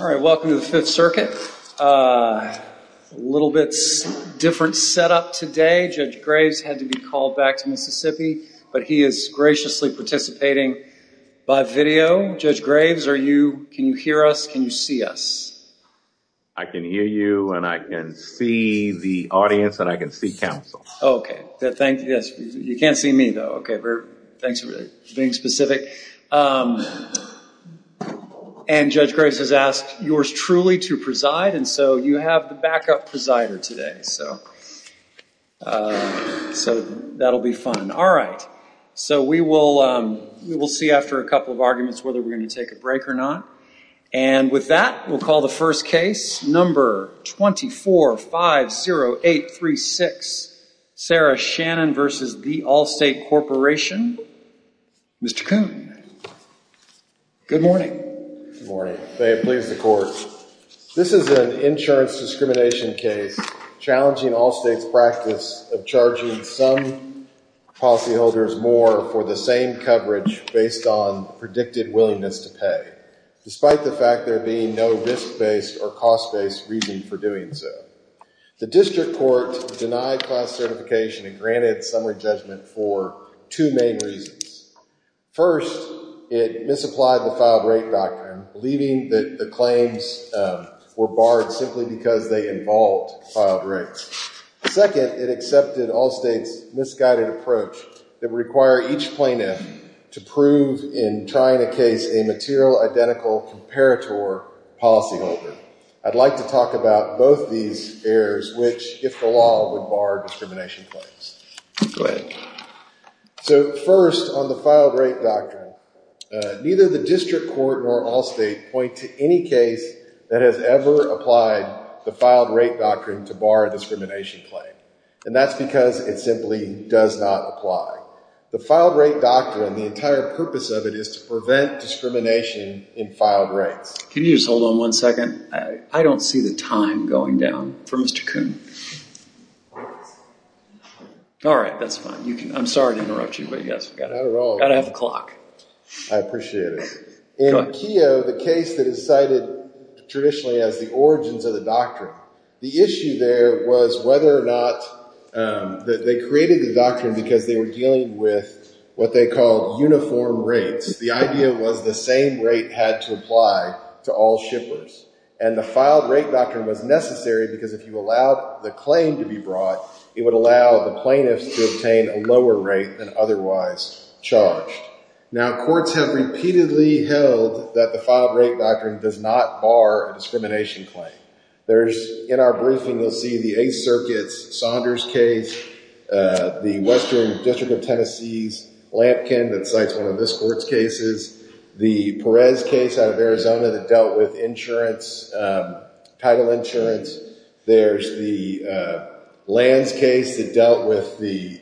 All right, welcome to the Fifth Circuit. A little bit different setup today. Judge Graves had to be called back to Mississippi, but he is graciously participating by video. Judge Graves, can you hear us? Can you see us? I can hear you, and I can see the audience, and I can see counsel. Oh, okay. You can't see me, though. Okay, thanks for being specific. And Judge Graves has asked yours truly to preside, and so you have the backup presider today. So that'll be fun. All right, so we will see after a couple of arguments whether we're going to take a break or not. And with that, we'll call the first case, number 24-50836, Sarah Shannon v. The Allstate Corporation. Mr. Coon. Good morning. Good morning. May it please the Court. This is an insurance discrimination case challenging Allstate's practice of charging some policyholders more for the same coverage based on predicted willingness to pay, despite the fact there being no risk-based or cost-based reasoning for doing so. The district court denied class certification and granted summary judgment for two main reasons. First, it misapplied the filed rate doctrine, believing that the claims were barred simply because they involved filed rates. Second, it accepted Allstate's misguided approach that would require each plaintiff to prove in trying a case a material identical comparator policyholder. I'd like to talk about both these errors, which, if the law would bar discrimination claims. So first, on the filed rate doctrine, neither the district court nor Allstate point to any case that has ever applied the filed rate doctrine to bar a discrimination claim. And that's because it simply does not apply. The filed rate doctrine, the entire purpose of it is to prevent discrimination in filed rates. Can you just hold on one second? I don't see the time going down for Mr. Coon. All right, that's fine. I'm sorry to interrupt you, but you guys have got a half o'clock. I appreciate it. In Keogh, the case that is cited traditionally as the origins of the They created the doctrine because they were dealing with what they called uniform rates. The idea was the same rate had to apply to all shippers. And the filed rate doctrine was necessary because if you allowed the claim to be brought, it would allow the plaintiffs to obtain a lower rate than otherwise charged. Now, courts have repeatedly held that the filed rate doctrine does not bar a discrimination claim. There's, in our briefing, you'll see the Eighth Circuit's Saunders case, the Western District of Tennessee's Lampkin that cites one of this court's cases, the Perez case out of Arizona that dealt with insurance, title insurance. There's the Lanz case that dealt with the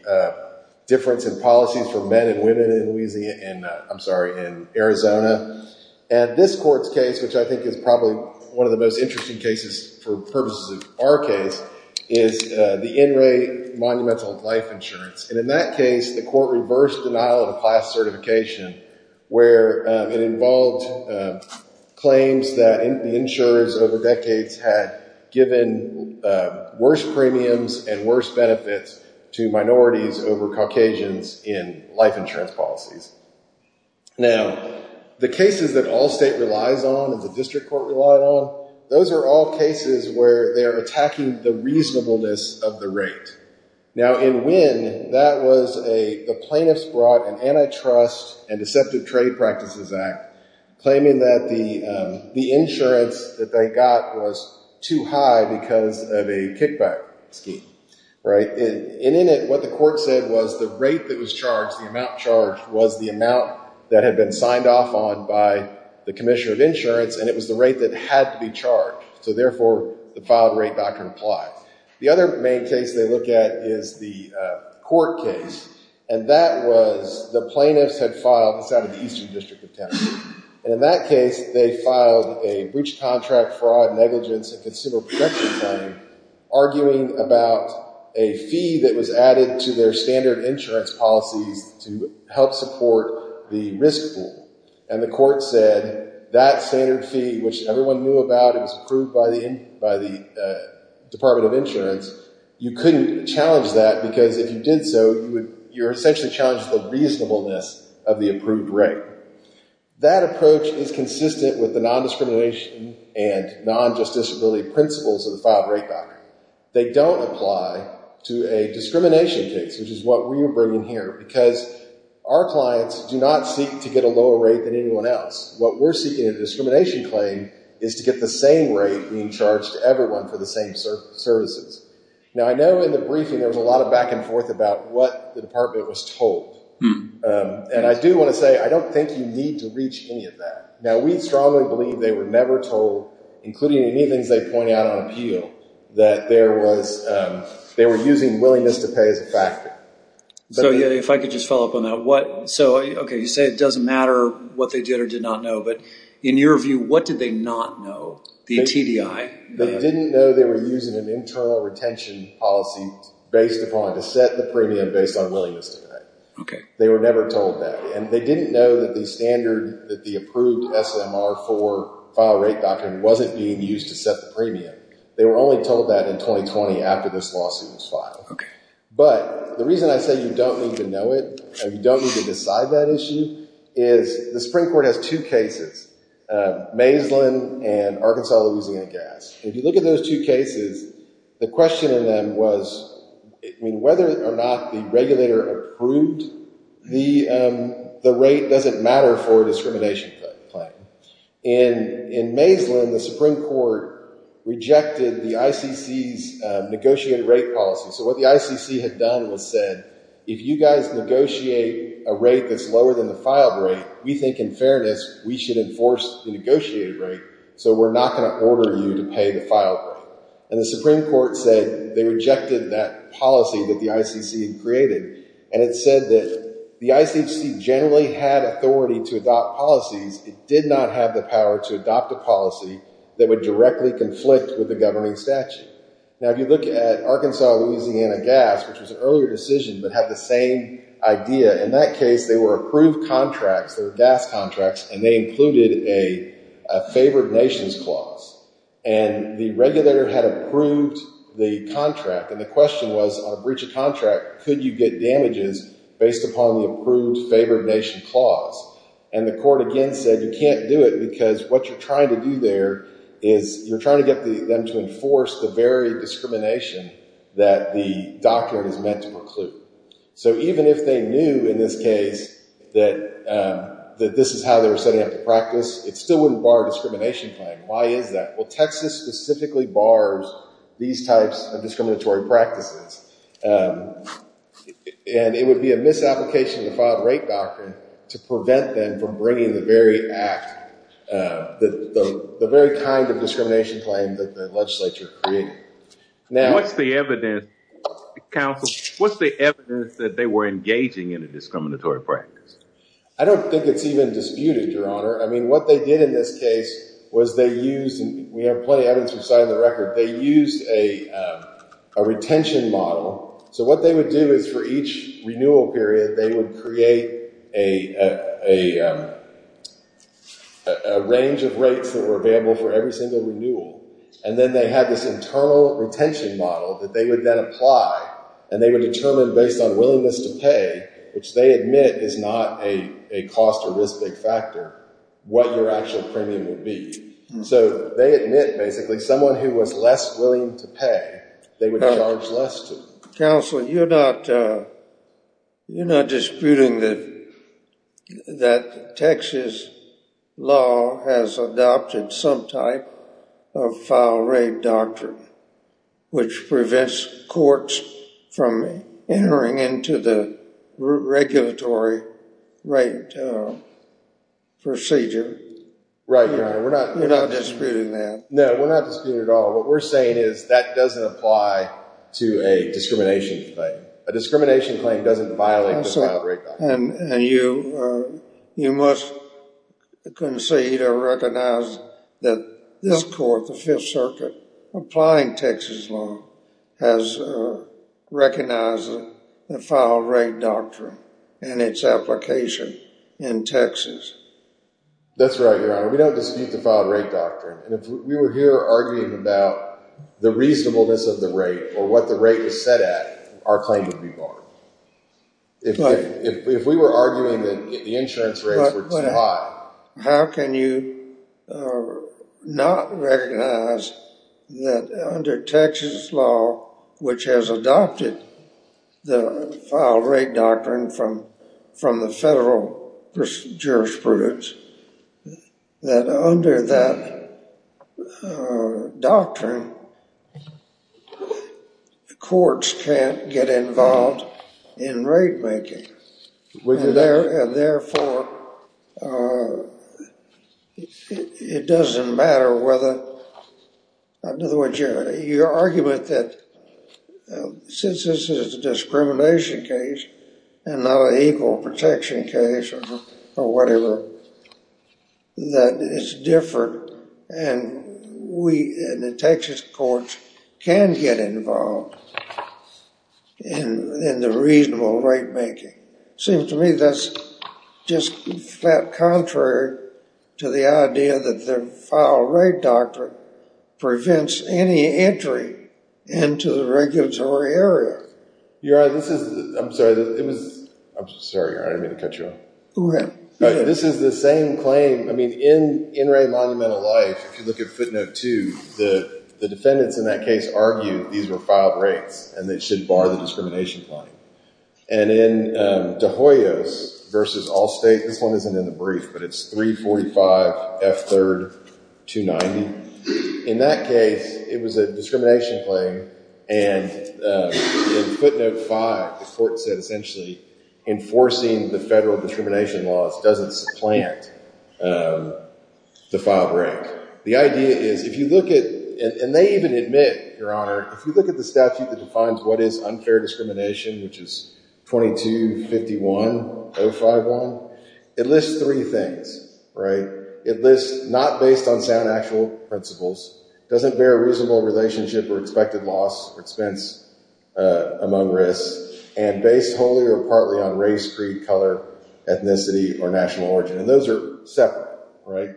difference in policies for men and women in Louisiana, I'm sorry, in Arizona. And this court's case, which I think is probably one of the most interesting cases for purposes of our case, is the In Re Monumental Life Insurance. And in that case, the court reversed denial of a class certification where it involved claims that the insurers over decades had given worse premiums and worse benefits to minorities over Caucasians in life insurance policies. Now, the cases that all state relies on and the district court relied on, those are all cases where they are attacking the reasonableness of the rate. Now, in Winn, that was a, the plaintiffs brought an antitrust and deceptive trade practices act claiming that the insurance that they got was too high because of a kickback scheme, right? And in it, what the court said was the rate that was charged, the amount charged was the amount that had been signed off on by the commissioner of insurance, and it was the rate that had to be charged. So therefore, the filed rate doctrine applied. The other main case they look at is the court case, and that was the plaintiffs had filed this out of the Eastern District of Tennessee. And in that case, they filed a breach of contract fraud, negligence, and consumer protection claim arguing about a fee that was added to their standard insurance policies to help support the risk pool. And the court said that standard fee, which everyone knew about, it was approved by the, by the Department of Insurance, you couldn't challenge that because if you did so, you would, you're essentially challenged the reasonableness of the approved rate. That approach is consistent with the nondiscrimination and non-justice really principles of the filed rate doctrine. They don't apply to a discrimination case, which is what we are arguing here because our clients do not seek to get a lower rate than anyone else. What we're seeking in a discrimination claim is to get the same rate being charged to everyone for the same services. Now, I know in the briefing, there was a lot of back and forth about what the department was told. And I do want to say, I don't think you need to reach any of that. Now, we strongly believe they were never told, including any things they pointed out on appeal, that there was, they were using willingness to pay as a factor. So, if I could just follow up on that, what, so, okay, you say it doesn't matter what they did or did not know, but in your view, what did they not know? The TDI? They didn't know they were using an internal retention policy based upon, to set the premium based on willingness to pay. Okay. They were never told that. And they didn't know that the standard, that the approved SMR for file rate doctrine wasn't being used to set the premium. They were only told that in 2020 after this lawsuit was filed. Okay. But the reason I say you don't need to know it and you don't need to decide that issue is the Supreme Court has two cases, Maislin and Arkansas-Louisiana Gas. If you look at those two cases, the question in them was, I mean, whether or not the regulator approved the rate, does it matter for discrimination claim? And in Maislin, the Supreme Court rejected the ICC's negotiated rate policy. So, what the ICC had done was said, if you guys negotiate a rate that's lower than the file rate, we think in fairness, we should enforce the negotiated rate. So, we're not going to order you to pay the file rate. And the Supreme Court said they rejected that policy that the ICC created. And it said that the ICC generally had authority to adopt policies. It did not have the power to adopt a policy that would directly conflict with the governing statute. Now, if you look at Arkansas-Louisiana Gas, which was an earlier decision, but had the same idea, in that case, they were approved contracts, they were gas contracts, and they included a favored nations clause. And the regulator had approved the contract. And the question was, on a breach of contract, could you get damages based upon the approved favored nation clause? And the court again said, you can't do it because what you're trying to do there is you're trying to get them to enforce the very discrimination that the doctrine is meant to preclude. So, even if they knew in this case that this is how they were setting up the practice, it still wouldn't bar discrimination claim. Why is that? Well, Texas specifically bars these types of discriminatory practices. And it would be a misapplication of the filed rate doctrine to prevent them from bringing the very act, the very kind of discrimination claim that the legislature created. Now, what's the evidence, counsel, what's the evidence that they were engaging in a discriminatory practice? I don't think it's even disputed, Your Honor. I mean, what they did in this case was they used, and we have plenty of evidence from the side of the record, they used a retention model. So, what they would do is for each renewal period, they would create a range of rates that were available for every single renewal. And then they had this internal retention model that they would then apply. And they would determine based on willingness to pay, which they admit is not a cost or risk big factor, what your actual premium would be. So, they admit, basically, someone who was less willing to pay, they would charge less to. Counsel, you're not disputing that Texas law has adopted some type of filed rate doctrine which prevents courts from entering into the regulatory rate procedure. Right, Your Honor. We're not disputing that. No, we're not disputing it at all. What we're saying is that doesn't apply to a discrimination claim. A discrimination claim doesn't violate the filed rate doctrine. And you must concede or recognize that this Court, the Fifth Circuit, applying Texas law, has recognized the filed rate doctrine and its application in Texas. That's right, Your Honor. We don't dispute the filed rate doctrine. And if we were here arguing about the reasonableness of the rate or what the rate was set at, our claim would be barred. If we were arguing that the insurance rates were too high. How can you not recognize that under Texas law, which has adopted the filed rate doctrine from the federal jurisprudence, that under that doctrine, courts can't get involved in rate making? And therefore, it doesn't matter whether, in other words, your argument that since this is a discrimination case and not an equal protection case or whatever, that it's different and the Texas courts can get involved in the reasonable rate making. Seems to me that's just flat contrary to the idea that the filed rate doctrine prevents any entry into the regulatory area. Your Honor, this is, I'm sorry, it was, I'm sorry, Your Honor, I didn't mean to cut you off. Go ahead. This is the same claim, I mean, in In Re Monumental Life, if you look at footnote 2, the defendants in that case argue these were filed rates and they should bar the discrimination claim. And in De Hoyos versus Allstate, this one isn't in the brief, but it's 345 F. 3rd. 290. In that case, it was a discrimination claim and in footnote 5, the court said essentially enforcing the federal discrimination laws doesn't supplant the filed rate. The idea is, if you look at, and they even admit, Your Honor, if you look at the statute that defines what is unfair discrimination, which is 2251.051, it lists three things, right? It lists not based on sound actual principles, doesn't bear a reasonable relationship or expected loss or expense among risks, and based wholly or partly on race, creed, color, ethnicity, or national origin, and those are separate, right?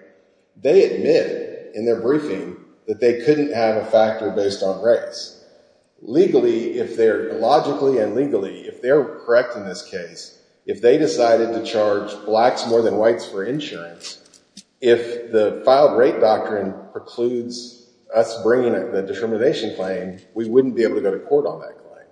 They admit in their briefing that they couldn't have a factor based on race. Legally, if they're, logically and legally, if they're correct in this case, if they decided to charge blacks more than whites for insurance, if the filed rate doctrine precludes us bringing the discrimination claim, we wouldn't be able to go to court on that claim.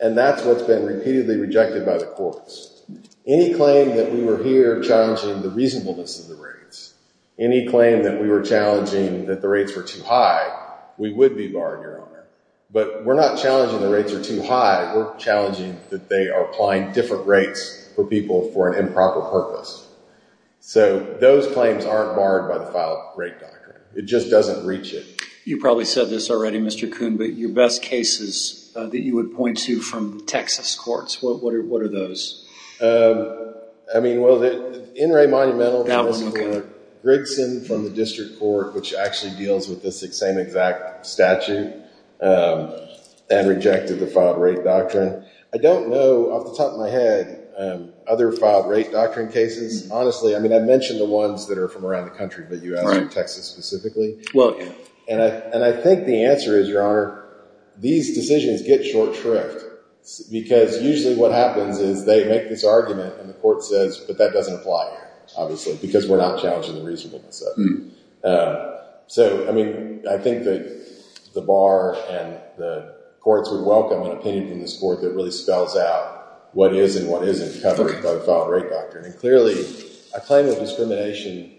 And that's what's been repeatedly rejected by the courts. Any claim that we were here challenging the reasonableness of the rates, any claim that we were challenging that the rates were too high, we would be barred, Your Honor. But we're not challenging the rates are too high. We're challenging that they are applying different rates for people for an improper purpose. So those claims aren't barred by the filed rate doctrine. It just doesn't reach it. You probably said this already, Mr. Coon, but your best cases that you would point to from Texas courts, what are those? I mean, well, the NRA Monumental. That was okay. Grigson from the district court, which actually deals with the same exact statute, and rejected the filed rate doctrine. I don't know off the top of my head other filed rate doctrine cases. Honestly, I mean, I mentioned the ones that are from around the country, but you asked Texas specifically. And I think the answer is, Your Honor, these decisions get short shrift, because usually what happens is they make this argument and the court says, but that doesn't apply here, obviously, because we're not challenging the reasonableness of it. So, I mean, I think that the bar and the courts would welcome an opinion from this court that really spells out what is and what isn't covered by the filed rate doctrine. And clearly, a claim of discrimination,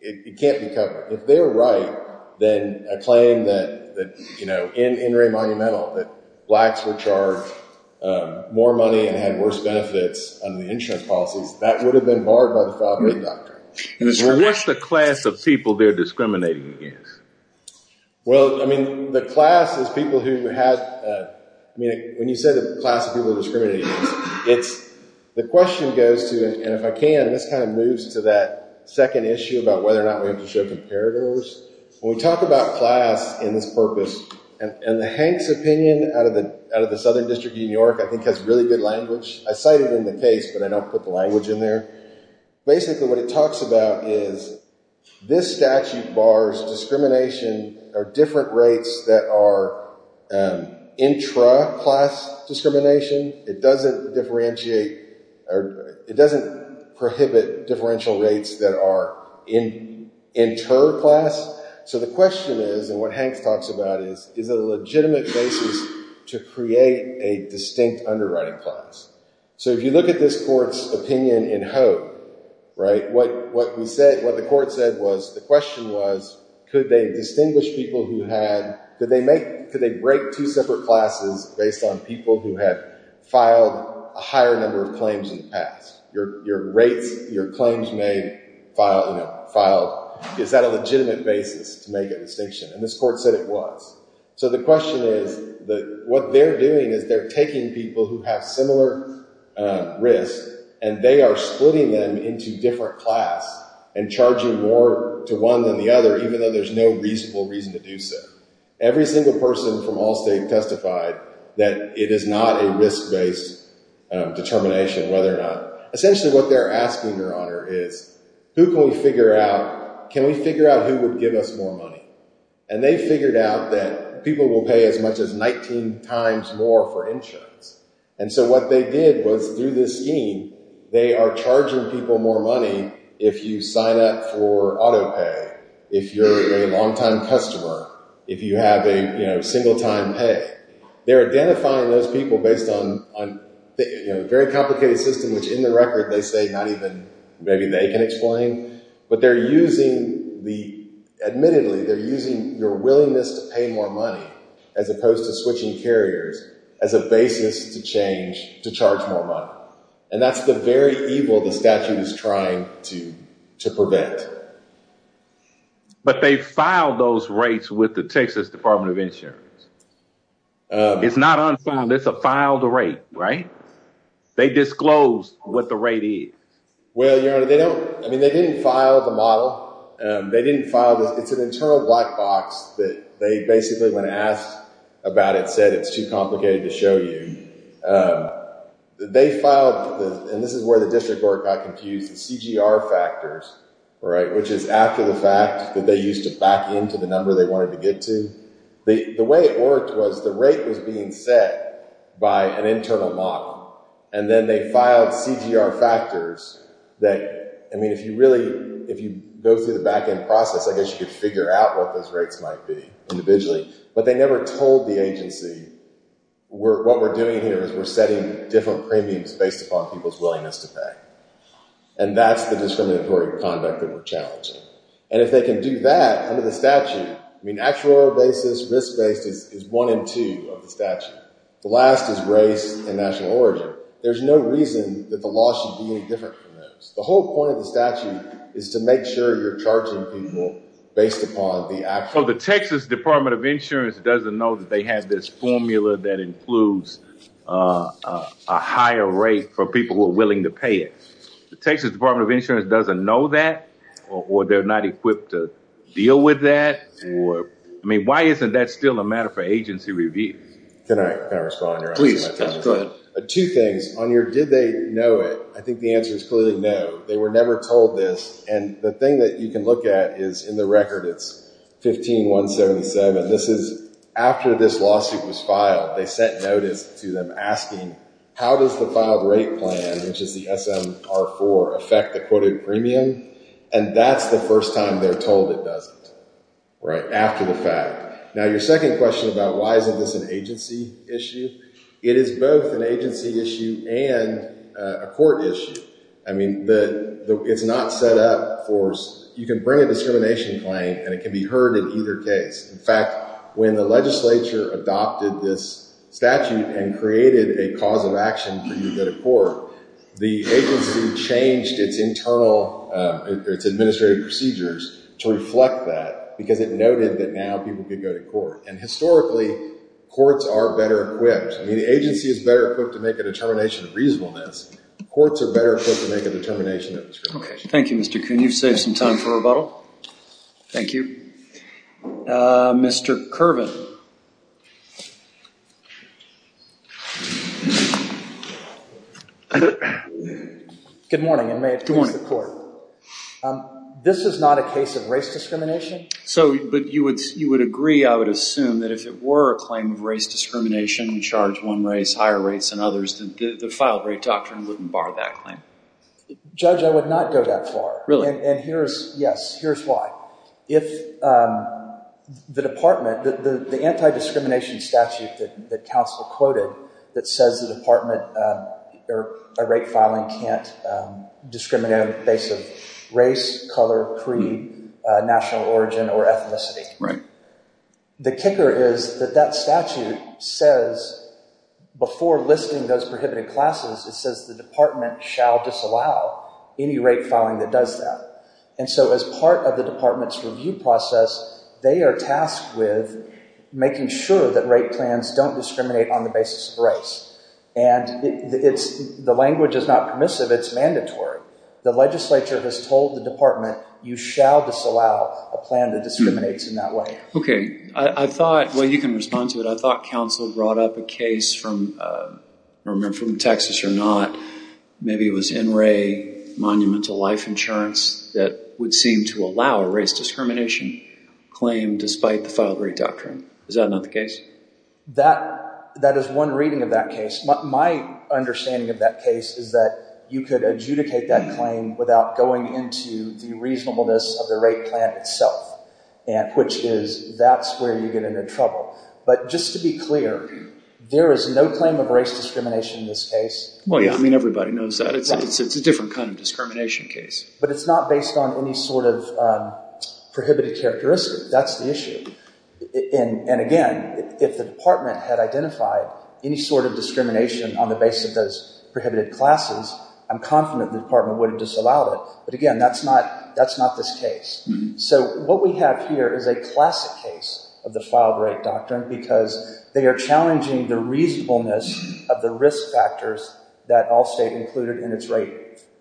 it can't be covered. If they're right, then a claim that, you know, in NRA Monumental, that blacks were charged more money and had worse benefits under the insurance policies, that would have been barred by the filed rate doctrine. What's the class of people they're discriminating against? Well, I mean, the class is people who have, I mean, when you say the class of people they're discriminating against, it's, the question goes to, and if I can, this kind of moves to that second issue about whether or not we have to show comparators. When we talk about class in this purpose, and Hank's opinion out of the Southern District of New York, I think has really good language. I cite it in the case, but I don't put the language in there. Basically, what it talks about is this statute bars discrimination or different rates that are intra-class discrimination. It doesn't differentiate, or it doesn't prohibit differential rates that are inter-class. So the question is, and what Hank talks about is, is it a legitimate basis to create a distinct underwriting class? So if you look at this court's opinion in Hope, right, what we said, what the court said was, the question was, could they distinguish people who had, could they make, could they break two separate classes based on people who had filed a higher number of claims in the past? Your rates, your claims may file, you know, file, is that a legitimate basis to make a distinction? And this court said it was. So the question is that what they're doing is they're taking people who have similar risk, and they are splitting them into different class and charging more to one than the other, even though there's no reasonable reason to do so. Every single person from Allstate testified that it is not a risk-based determination whether or not, essentially what they're asking, Your Honor, is who can we figure out, can we figure out who would give us more money? And they figured out that people will pay as much as 19 times more for insurance. And so what they did was through this scheme, they are charging people more money if you sign up for auto pay, if you're a long-time customer, if you have a, you know, single-time pay. They're identifying those people based on, you know, a very complicated system, which in the record they say not even maybe they can explain. But they're using the, admittedly, they're using your willingness to pay more money as opposed to switching carriers as a basis to change to charge more money. And that's the very evil the statute is trying to prevent. But they filed those rates with the Texas Department of Insurance. It's not unfiled. It's a filed rate, right? They disclosed what the rate is. Well, Your Honor, they don't, I mean, they didn't file the model. They didn't file this. It's an internal black box that they basically, when asked about it, said it's too complicated to show you. They filed, and this is where the district court got confused, the CGR factors, right, which is after the fact that they used to back into the number they wanted to get to. The way it worked was the rate was being set by an internal model. And then they filed CGR factors that, I mean, if you really, if you go through the back end process, I guess you could figure out what those rates might be individually. But they never told the agency what we're doing here is we're setting different premiums based upon people's willingness to pay. And that's the discriminatory conduct that we're challenging. And if they can do that under the statute, I mean, actual basis, risk basis is one in two of the statute. The last is race and national origin. There's no reason that the law should be any different from those. The whole point of the statute is to make sure you're charging people based upon the actual. So the Texas Department of Insurance doesn't know that they have this formula that includes a higher rate for people who are willing to pay it. The Texas Department of Insurance doesn't know that or they're not equipped to deal with that? I mean, why isn't that still a matter for agency review? Can I respond? Please, go ahead. Two things. On your did they know it, I think the answer is clearly no. They were never told this. And the thing that you can look at is in the record it's 15177. This is after this lawsuit was filed. They sent notice to them asking how does the filed rate plan, which is the SMR4, affect the quoted premium? And that's the first time they're told it doesn't, right, after the fact. Now, your second question about why isn't this an agency issue, it is both an agency issue and a court issue. I mean, it's not set up for you can bring a discrimination claim and it can be heard in either case. In fact, when the legislature adopted this statute and created a cause of action for you to go to court, the agency changed its internal, its administrative procedures to reflect that because it noted that now people could go to court. And historically, courts are better equipped. I mean, the agency is better equipped to make a determination of reasonableness. Courts are better equipped to make a determination of discrimination. Okay. Thank you, Mr. Kuhn. You've saved some time for rebuttal. Thank you. Mr. Kervin. Good morning, and may it please the court. This is not a case of race discrimination? So, but you would agree, I would assume, that if it were a claim of race discrimination, charge one race, higher rates than others, the filed rate doctrine wouldn't bar that claim. Judge, I would not go that far. Really? And here's, yes, here's why. If the department, the anti-discrimination statute that counsel quoted that says the department or a rate filing can't discriminate on the basis of race, color, creed, national origin, or ethnicity. Right. The kicker is that that statute says, before listing those prohibited classes, it says the department shall disallow any rate filing that does that. And so as part of the department's review process, they are tasked with making sure that rate plans don't discriminate on the basis of race. And it's, the language is not permissive, it's mandatory. The legislature has told the department you shall disallow a plan that discriminates in that way. Okay, I thought, well you can respond to it, I thought counsel brought up a case from, I don't remember from Texas or not, maybe it was NRA, Monumental Life Insurance, that would seem to allow a race discrimination claim despite the filed rate doctrine. Is that not the case? That, that is one reading of that case. My understanding of that case is that you could adjudicate that claim without going into the reasonableness of the rate plan itself, which is, that's where you get into trouble. But just to be clear, there is no claim of race discrimination in this case. Well, yeah, I mean, everybody knows that. It's a different kind of discrimination case. But it's not based on any sort of prohibited characteristic. That's the issue. And again, if the department had identified any sort of discrimination on the basis of those prohibited classes, I'm confident the department would have disallowed it. But again, that's not, that's not this case. So what we have here is a classic case of the filed rate doctrine because they are challenging the reasonableness of the risk factors that Allstate included in its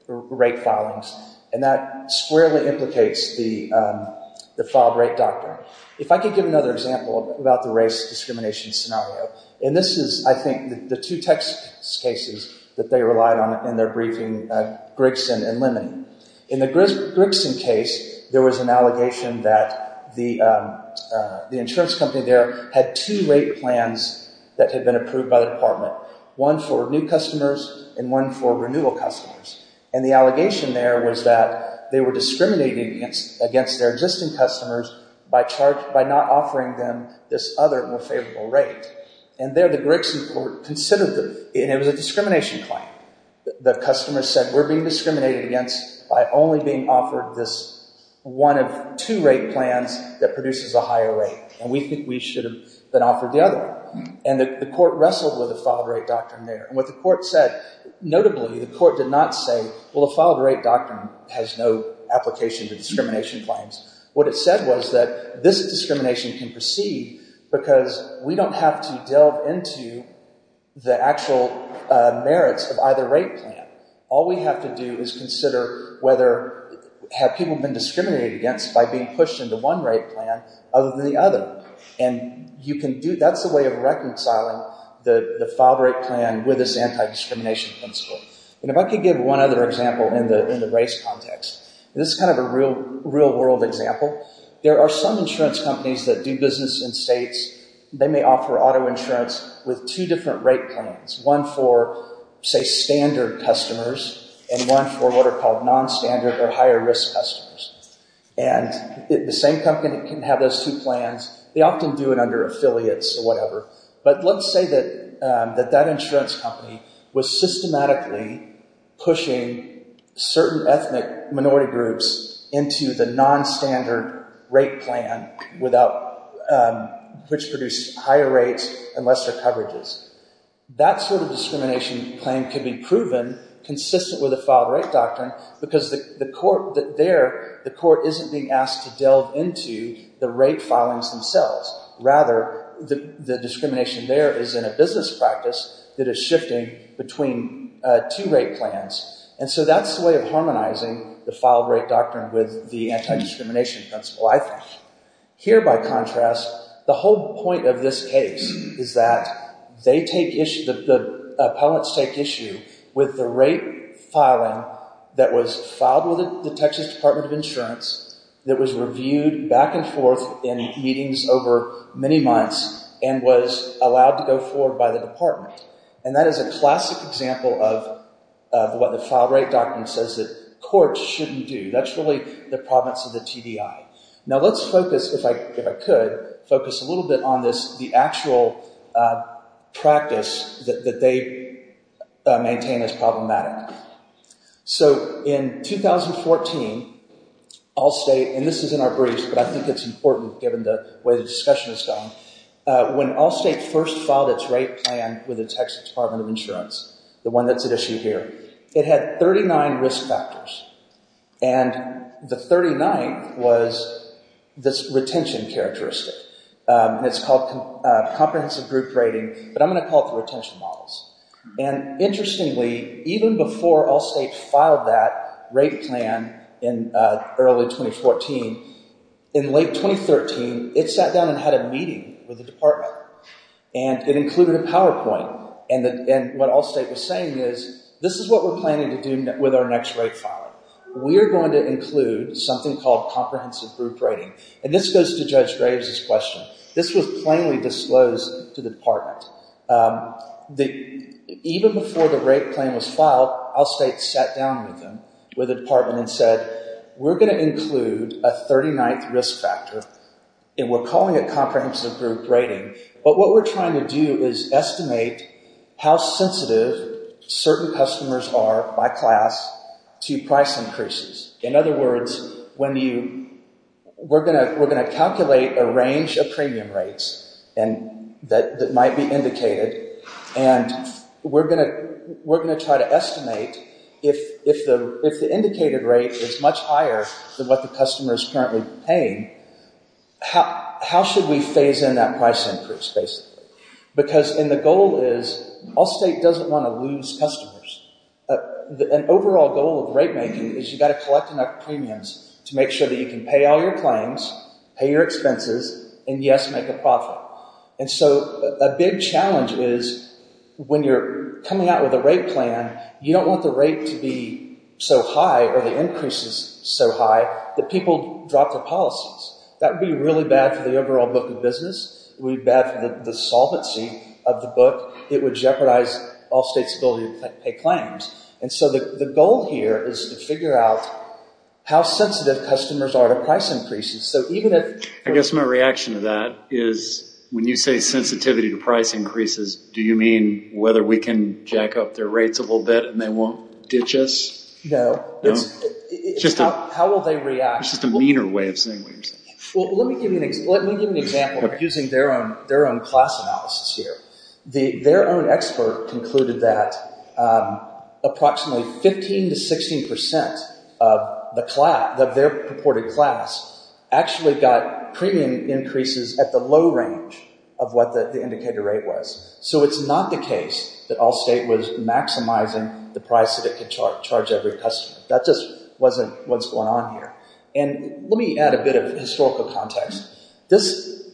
rate filings. And that squarely implicates the filed rate doctrine. If I could give another example about the race discrimination scenario, and this is, I think, the two text cases that they relied on in their briefing, Grigson and Lemony. In the Grigson case, there was an allegation that the insurance company there had two rate plans that had been approved by the department, one for new customers and one for renewal customers. And the allegation there was that they were discriminating against their existing customers by charge, by not offering them this other more favorable rate. And there the Grigson court considered the, and it was a discrimination claim. The customer said, we're being discriminated against by only being offered this one of two rate plans that produces a higher rate. And we think we should have been offered the other. And the court wrestled with the filed rate doctrine there. And what the court said, notably, the court did not say, well, the filed rate doctrine has no application to discrimination claims. What it said was that this discrimination can proceed because we don't have to delve into the actual merits of either rate plan. All we have to do is consider whether have people been discriminated against by being pushed into one rate plan other than the other. And you can do, that's the way of reconciling the filed rate plan with this anti-discrimination principle. And if I could give one other example in the race context. This is kind of a real world example. There are some insurance companies that do business in states. They may offer auto insurance with two different rate plans. One for, say, standard customers and one for what are called non-standard or higher risk customers. And the same company can have those two plans. They often do it under affiliates or whatever. But let's say that that insurance company was systematically pushing certain ethnic minority groups into the non-standard rate plan without, which produced higher rates and lesser coverages. That sort of discrimination claim can be proven consistent with the filed rate doctrine because the court there, the court isn't being asked to delve into the rate filings themselves. Rather, the discrimination there is in a business practice that is shifting between two rate plans. And so that's the way of harmonizing the filed rate doctrine with the anti-discrimination principle, I think. Here, by contrast, the whole point of this case is that they take issue, the appellants take issue with the rate filing that was filed with the Texas Department of Insurance that was reviewed back and forth in meetings over many months and was allowed to go forward by the department. And that is a classic example of what the filed rate doctrine says that courts shouldn't do. That's really the province of the TDI. Now let's focus, if I could, focus a little bit on this, the actual practice that they maintain as problematic. So in 2014, Allstate, and this is in our briefs, but I think it's important given the way the discussion has gone. When Allstate first filed its rate plan with the Texas Department of Insurance, the one that's at issue here, it had 39 risk factors. And the 39th was this retention characteristic. It's called comprehensive group rating, but I'm going to call it the retention models. And interestingly, even before Allstate filed that rate plan in early 2014, in late 2013, it sat down and had a meeting with the department. And it included a PowerPoint, and what Allstate was saying is, this is what we're planning to do with our next rate filing. We are going to include something called comprehensive group rating. And this goes to Judge Graves' question. This was plainly disclosed to the department. Even before the rate plan was filed, Allstate sat down with them, with the department, and said, we're going to include a 39th risk factor, and we're calling it comprehensive group rating. But what we're trying to do is estimate how sensitive certain customers are by class to price increases. In other words, we're going to calculate a range of premium rates that might be indicated, and we're going to try to estimate if the indicated rate is much higher than what the customer is currently paying, how should we phase in that price increase, basically? Because the goal is, Allstate doesn't want to lose customers. An overall goal of rate making is you've got to collect enough premiums to make sure that you can pay all your claims, pay your expenses, and yes, make a profit. And so a big challenge is when you're coming out with a rate plan, you don't want the rate to be so high or the increases so high that people drop their policies. That would be really bad for the overall book of business. It would be bad for the solvency of the book. It would jeopardize Allstate's ability to pay claims. And so the goal here is to figure out how sensitive customers are to price increases. I guess my reaction to that is when you say sensitivity to price increases, do you mean whether we can jack up their rates a little bit and they won't ditch us? No. It's just a meaner way of saying what you're saying. Well, let me give you an example using their own class analysis here. Their own expert concluded that approximately 15 to 16 percent of their purported class actually got premium increases at the low range of what the indicator rate was. So it's not the case that Allstate was maximizing the price that it could charge every customer. That just wasn't what's going on here. And let me add a bit of historical context. This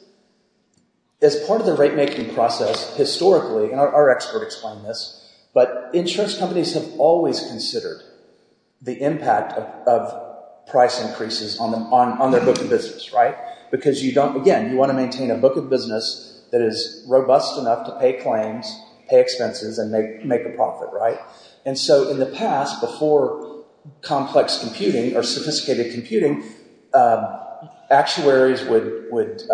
is part of the rate-making process historically, and our expert explained this, but insurance companies have always considered the impact of price increases on their book of business. Because, again, you want to maintain a book of business that is robust enough to pay claims, pay expenses, and make a profit. And so in the past, before complex computing or sophisticated computing, actuaries would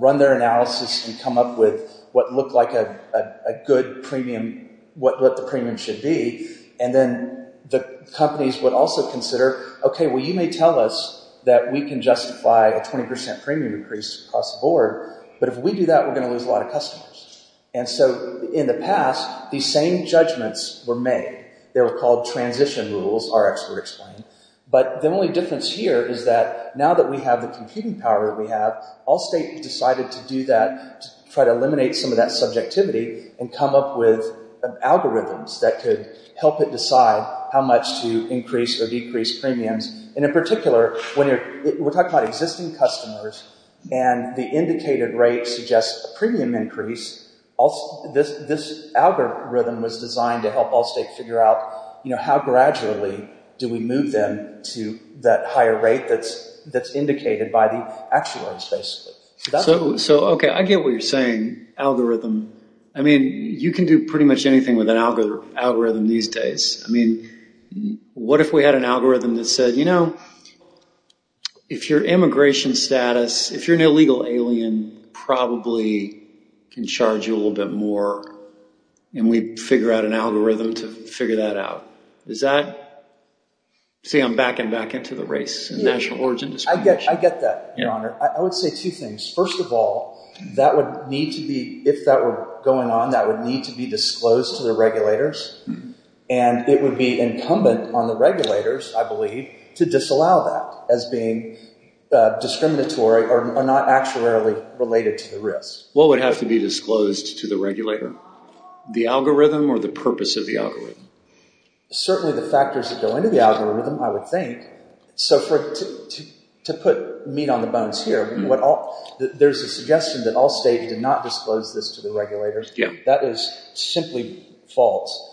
run their analysis and come up with what looked like a good premium, what the premium should be, and then the companies would also consider, okay, well, you may tell us that we can justify a 20 percent premium increase across the board, but if we do that, we're going to lose a lot of customers. And so in the past, these same judgments were made. They were called transition rules, our expert explained. But the only difference here is that now that we have the computing power that we have, Allstate decided to do that, to try to eliminate some of that subjectivity and come up with algorithms that could help it decide how much to increase or decrease premiums. And in particular, we're talking about existing customers, and the indicated rate suggests a premium increase. This algorithm was designed to help Allstate figure out how gradually do we move them to that higher rate that's indicated by the actuaries, basically. So, okay, I get what you're saying, algorithm. I mean, you can do pretty much anything with an algorithm these days. I mean, what if we had an algorithm that said, you know, if your immigration status, if you're an illegal alien, probably can charge you a little bit more, and we'd figure out an algorithm to figure that out. Is that? See, I'm backing back into the race and national origin discrimination. I get that, Your Honor. I would say two things. First of all, that would need to be, if that were going on, that would need to be disclosed to the regulators, and it would be incumbent on the regulators, I believe, to disallow that as being discriminatory or not actuarially related to the risk. What would have to be disclosed to the regulator? The algorithm or the purpose of the algorithm? Certainly the factors that go into the algorithm, I would think. So to put meat on the bones here, there's a suggestion that Allstate did not disclose this to the regulators. That is simply false.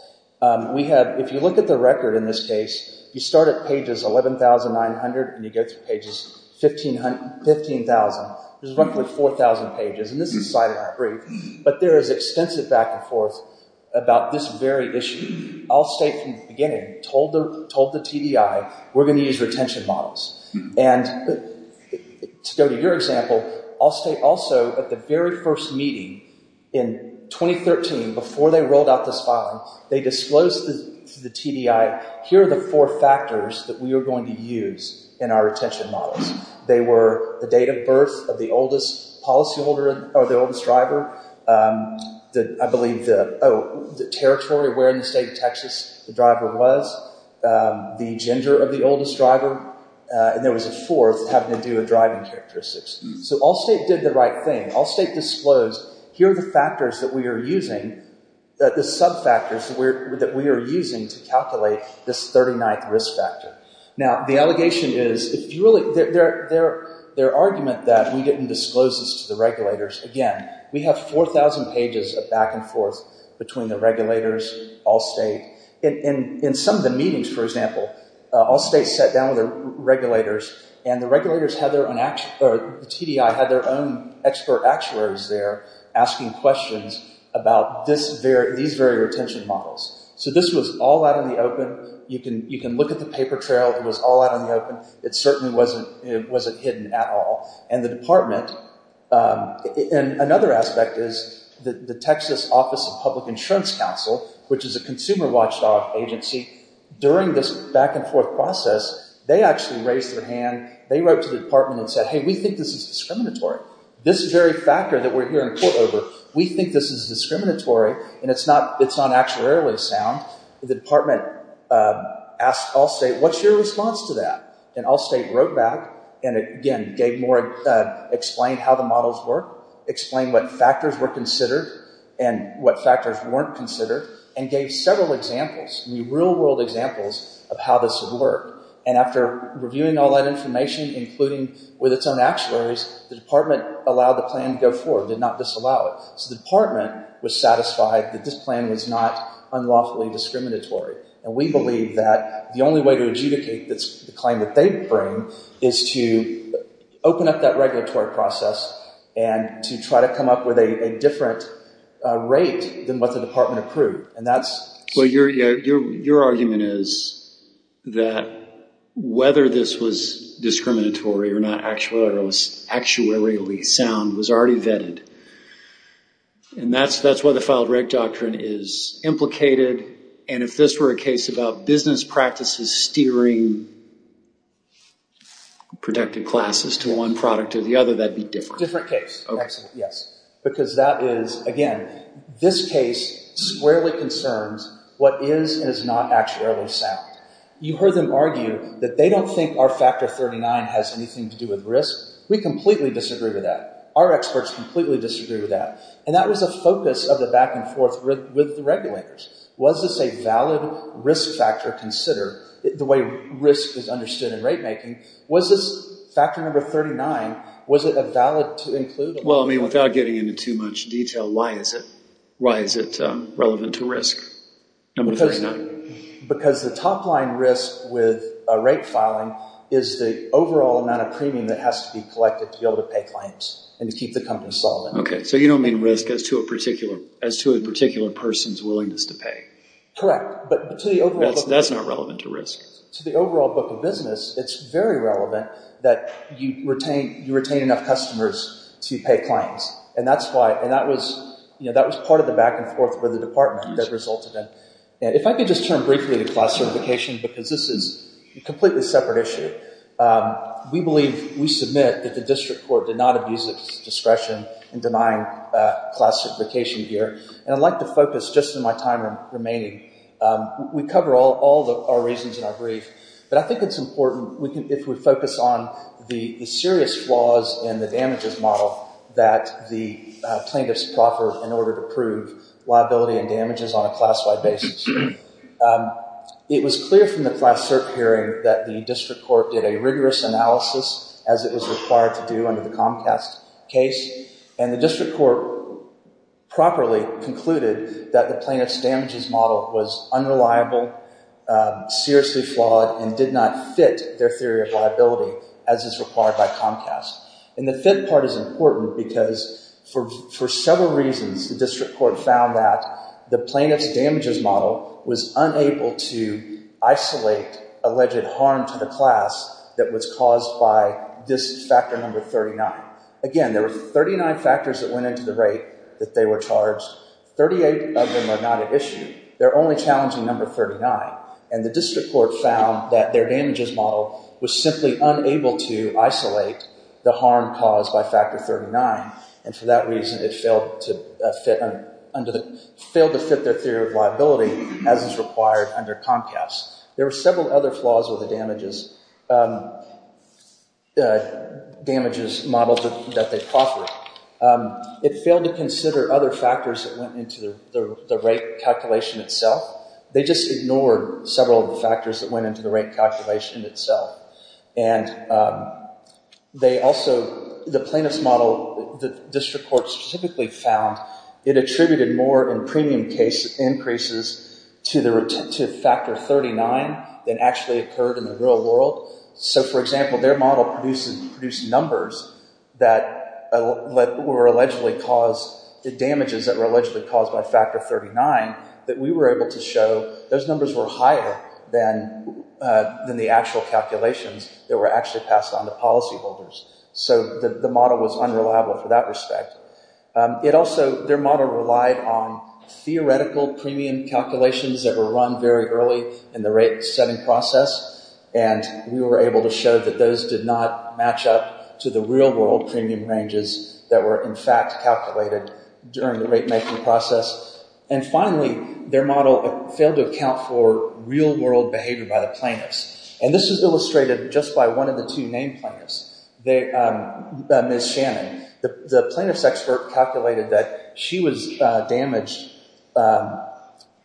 We have, if you look at the record in this case, you start at pages 11,900 and you go through pages 15,000. There's roughly 4,000 pages, and this is cited in our brief, but there is extensive back and forth about this very issue. Allstate, from the beginning, told the TDI, we're going to use retention models. To go to your example, Allstate also, at the very first meeting in 2013, before they rolled out this filing, they disclosed to the TDI, here are the four factors that we are going to use in our retention models. They were the date of birth of the oldest policyholder or the oldest driver, I believe the territory, where in the state of Texas the driver was, the gender of the oldest driver, and there was a fourth having to do with driving characteristics. So Allstate did the right thing. Allstate disclosed, here are the factors that we are using, the sub-factors that we are using to calculate this 39th risk factor. Now, the allegation is, if you really, their argument that we didn't disclose this to the regulators, again, we have 4,000 pages of back and forth between the regulators, Allstate. In some of the meetings, for example, Allstate sat down with the regulators, and the regulators had their own, or the TDI had their own expert actuaries there asking questions about these very retention models. So this was all out in the open. You can look at the paper trail, it was all out in the open. It certainly wasn't hidden at all. And the department, and another aspect is, the Texas Office of Public Insurance Council, which is a consumer watchdog agency, during this back and forth process, they actually raised their hand, they wrote to the department and said, hey, we think this is discriminatory. This very factor that we're here in court over, we think this is discriminatory, and it's not actuarially sound. The department asked Allstate, what's your response to that? And Allstate wrote back, and again, gave more, explained how the models work, explained what factors were considered and what factors weren't considered, and gave several examples, real world examples of how this would work. And after reviewing all that information, including with its own actuaries, the department allowed the plan to go forward, did not disallow it. So the department was satisfied that this plan was not unlawfully discriminatory. And we believe that the only way to adjudicate the claim that they bring is to open up that regulatory process and to try to come up with a different rate than what the department approved. Your argument is that whether this was discriminatory or not actuarially sound was already vetted. And that's why the filed rate doctrine is implicated. And if this were a case about business practices steering protected classes to one product or the other, that'd be different. Different case, yes. Because that is, again, this case squarely concerns what is and is not actuarially sound. You heard them argue that they don't think our factor 39 has anything to do with risk. We completely disagree with that. Our experts completely disagree with that. And that was a focus of the back-and-forth with the regulators. Was this a valid risk factor considered the way risk is understood in rate making? Was this factor number 39, was it valid to include? Well, I mean, without getting into too much detail, why is it relevant to risk number 39? Because the top-line risk with a rate filing is the overall amount of premium that has to be collected to be able to pay claims and to keep the company solid. Okay, so you don't mean risk as to a particular person's willingness to pay. Correct, but to the overall book of business. That's not relevant to risk. To the overall book of business, it's very relevant that you retain enough customers to pay claims. And that was part of the back-and-forth with the department that resulted in. If I could just turn briefly to class certification because this is a completely separate issue. We believe, we submit that the district court did not abuse its discretion in denying class certification here. And I'd like to focus just on my time remaining. We cover all the reasons in our brief. But I think it's important if we focus on the serious flaws in the damages model that the plaintiffs proffered in order to prove liability and damages on a class-wide basis. It was clear from the class cert hearing that the district court did a rigorous analysis as it was required to do under the Comcast case. And the district court properly concluded that the plaintiff's damages model was unreliable, seriously flawed, and did not fit their theory of liability as is required by Comcast. And the fit part is important because for several reasons, the district court found that the plaintiff's damages model was unable to isolate alleged harm to the class that was caused by this factor number 39. Again, there were 39 factors that went into the rate that they were charged. 38 of them are not at issue. They're only challenging number 39. And the district court found that their damages model was simply unable to isolate the harm caused by factor 39. And for that reason, it failed to fit their theory of liability as is required under Comcast. There were several other flaws with the damages model that they proffered. It failed to consider other factors that went into the rate calculation itself. They just ignored several of the factors that went into the rate calculation itself. And they also, the plaintiff's model, the district court specifically found, it attributed more in premium case increases to factor 39 than actually occurred in the real world. So, for example, their model produced numbers that were allegedly caused, the damages that were allegedly caused by factor 39 that we were able to show, those numbers were higher than the actual calculations that were actually passed on to policyholders. So the model was unreliable for that respect. It also, their model relied on theoretical premium calculations that were run very early in the rate setting process. And we were able to show that those did not match up to the real world premium ranges that were in fact calculated during the rate making process. And finally, their model failed to account for real world behavior by the plaintiffs. And this is illustrated just by one of the two named plaintiffs, Ms. Shannon. The plaintiff's expert calculated that she was damaged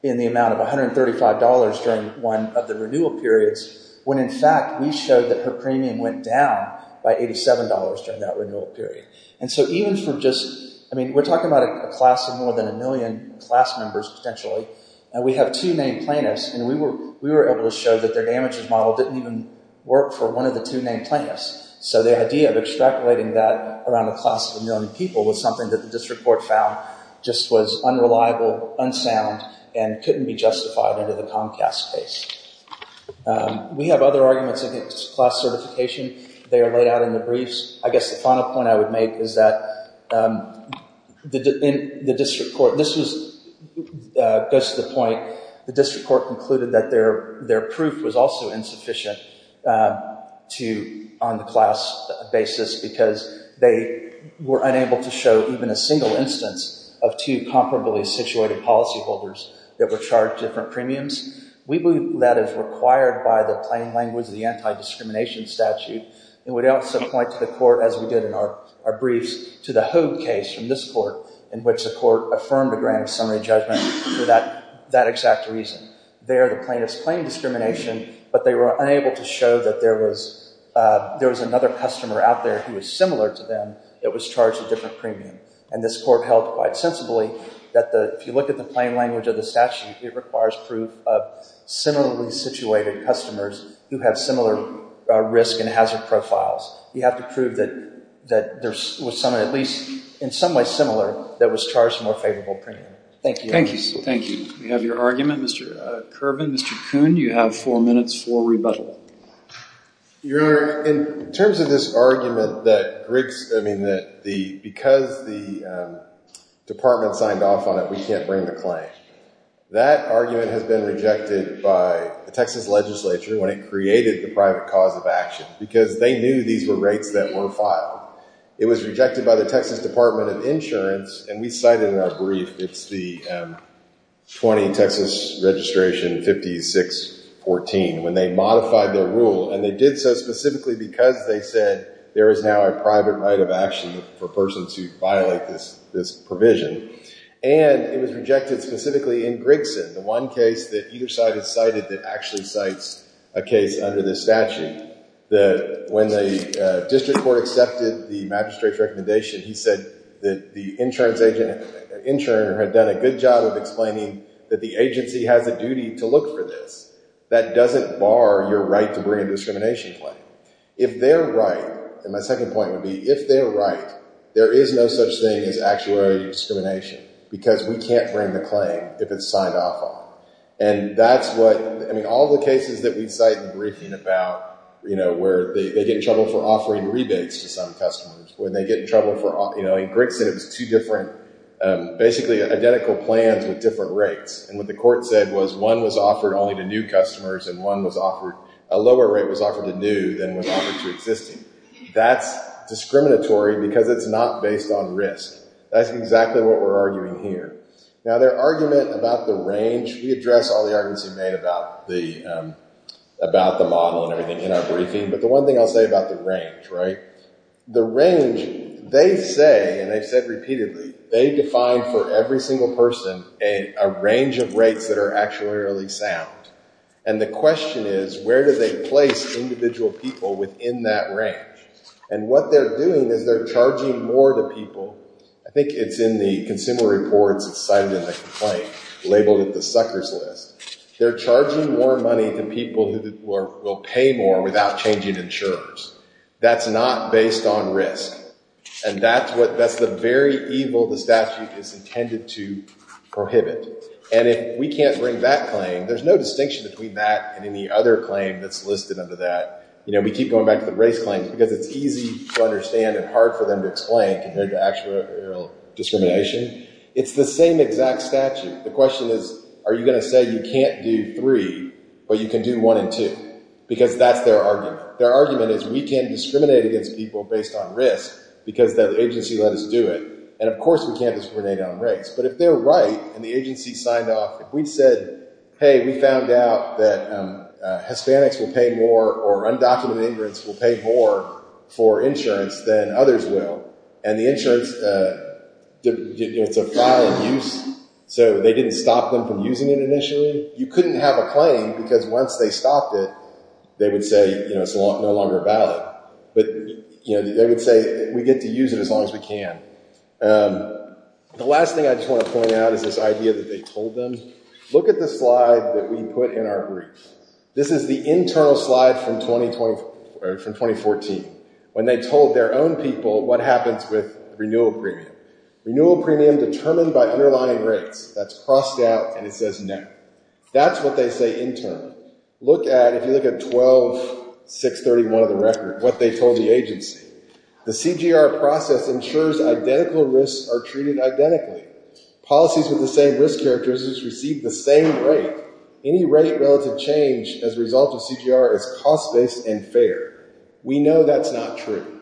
in the amount of $135 during one of the renewal periods when in fact we showed that her premium went down by $87 during that renewal period. And so even for just, I mean, we're talking about a class of more than a million class members potentially, and we have two named plaintiffs, and we were able to show that their damages model didn't even work for one of the two named plaintiffs. So the idea of extrapolating that around a class of a million people was something that the district court found just was unreliable, unsound, and couldn't be justified under the Comcast case. We have other arguments against class certification. They are laid out in the briefs. I guess the final point I would make is that the district court, this goes to the point, the district court concluded that their proof was also insufficient on the class basis because they were unable to show even a single instance of two comparably situated policyholders that were charged different premiums. We believe that is required by the plain language of the anti-discrimination statute. It would also point to the court, as we did in our briefs, to the Hogue case from this court in which the court affirmed a grand summary judgment for that exact reason. There the plaintiffs claimed discrimination, but they were unable to show that there was another customer out there who was similar to them that was charged a different premium. And this court held quite sensibly that if you look at the plain language of the statute, it requires proof of similarly situated customers who have similar risk and hazard profiles. You have to prove that there was someone at least in some way similar that was charged a more favorable premium. Thank you. Thank you. Thank you. We have your argument, Mr. Kerbin. Mr. Kuhn, you have four minutes for rebuttal. Your Honor, in terms of this argument that Griggs, I mean, that the, because the department signed off on it, we can't bring the claim. That argument has been rejected by the Texas legislature when it created the private cause of action because they knew these were rates that were filed. It was rejected by the Texas Department of Insurance, and we cited in our brief, it's the 20 Texas Registration 5614, when they modified their rule, and they did so specifically because they said there is now a private right of action for persons who violate this provision. And it was rejected specifically in Griggson, the one case that either side has cited that actually cites a case under this statute. When the district court accepted the magistrate's recommendation, he said that the insurance agent, the insurer had done a good job of explaining that the agency has a duty to look for this. That doesn't bar your right to bring a discrimination claim. If they're right, and my second point would be if they're right, there is no such thing as actuarial discrimination because we can't bring the claim if it's signed off on. And that's what, I mean, all the cases that we cite in the briefing about, you know, where they get in trouble for offering rebates to some customers, when they get in trouble for, you know, in Griggson it was two different, basically identical plans with different rates. And what the court said was one was offered only to new customers, and one was offered, a lower rate was offered to new than was offered to existing. That's discriminatory because it's not based on risk. That's exactly what we're arguing here. Now, their argument about the range, we address all the arguments we've made about the model and everything in our briefing. But the one thing I'll say about the range, right, the range, they say, and they've said repeatedly, they define for every single person a range of rates that are actuarially sound. And the question is where do they place individual people within that range? And what they're doing is they're charging more to people. I think it's in the consumer reports that's cited in the complaint, labeled it the suckers list. They're charging more money to people who will pay more without changing insurers. That's not based on risk. And that's what, that's the very evil the statute is intended to prohibit. And if we can't bring that claim, there's no distinction between that and any other claim that's listed under that. You know, we keep going back to the race claims because it's easy to understand and hard for them to explain compared to actuarial discrimination. It's the same exact statute. The question is are you going to say you can't do three but you can do one and two because that's their argument. Their argument is we can't discriminate against people based on risk because the agency let us do it. And, of course, we can't discriminate on race. But if they're right and the agency signed off, if we said, hey, we found out that Hispanics will pay more or undocumented immigrants will pay more for insurance than others will. And the insurance, you know, it's a file of use. So they didn't stop them from using it initially. You couldn't have a claim because once they stopped it, they would say, you know, it's no longer valid. But, you know, they would say we get to use it as long as we can. The last thing I just want to point out is this idea that they told them. Look at the slide that we put in our brief. This is the internal slide from 2014 when they told their own people what happens with renewal premium. Renewal premium determined by underlying rates. That's crossed out and it says no. That's what they say internally. Look at, if you look at 12-631 of the record, what they told the agency. The CGR process ensures identical risks are treated identically. Policies with the same risk characteristics receive the same rate. Any rate relative change as a result of CGR is cost-based and fair. We know that's not true.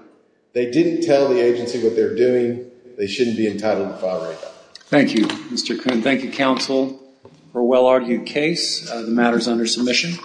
They didn't tell the agency what they're doing. They shouldn't be entitled to file right now. Thank you, Mr. Coon. Thank you, counsel, for a well-argued case. The matter is under submission.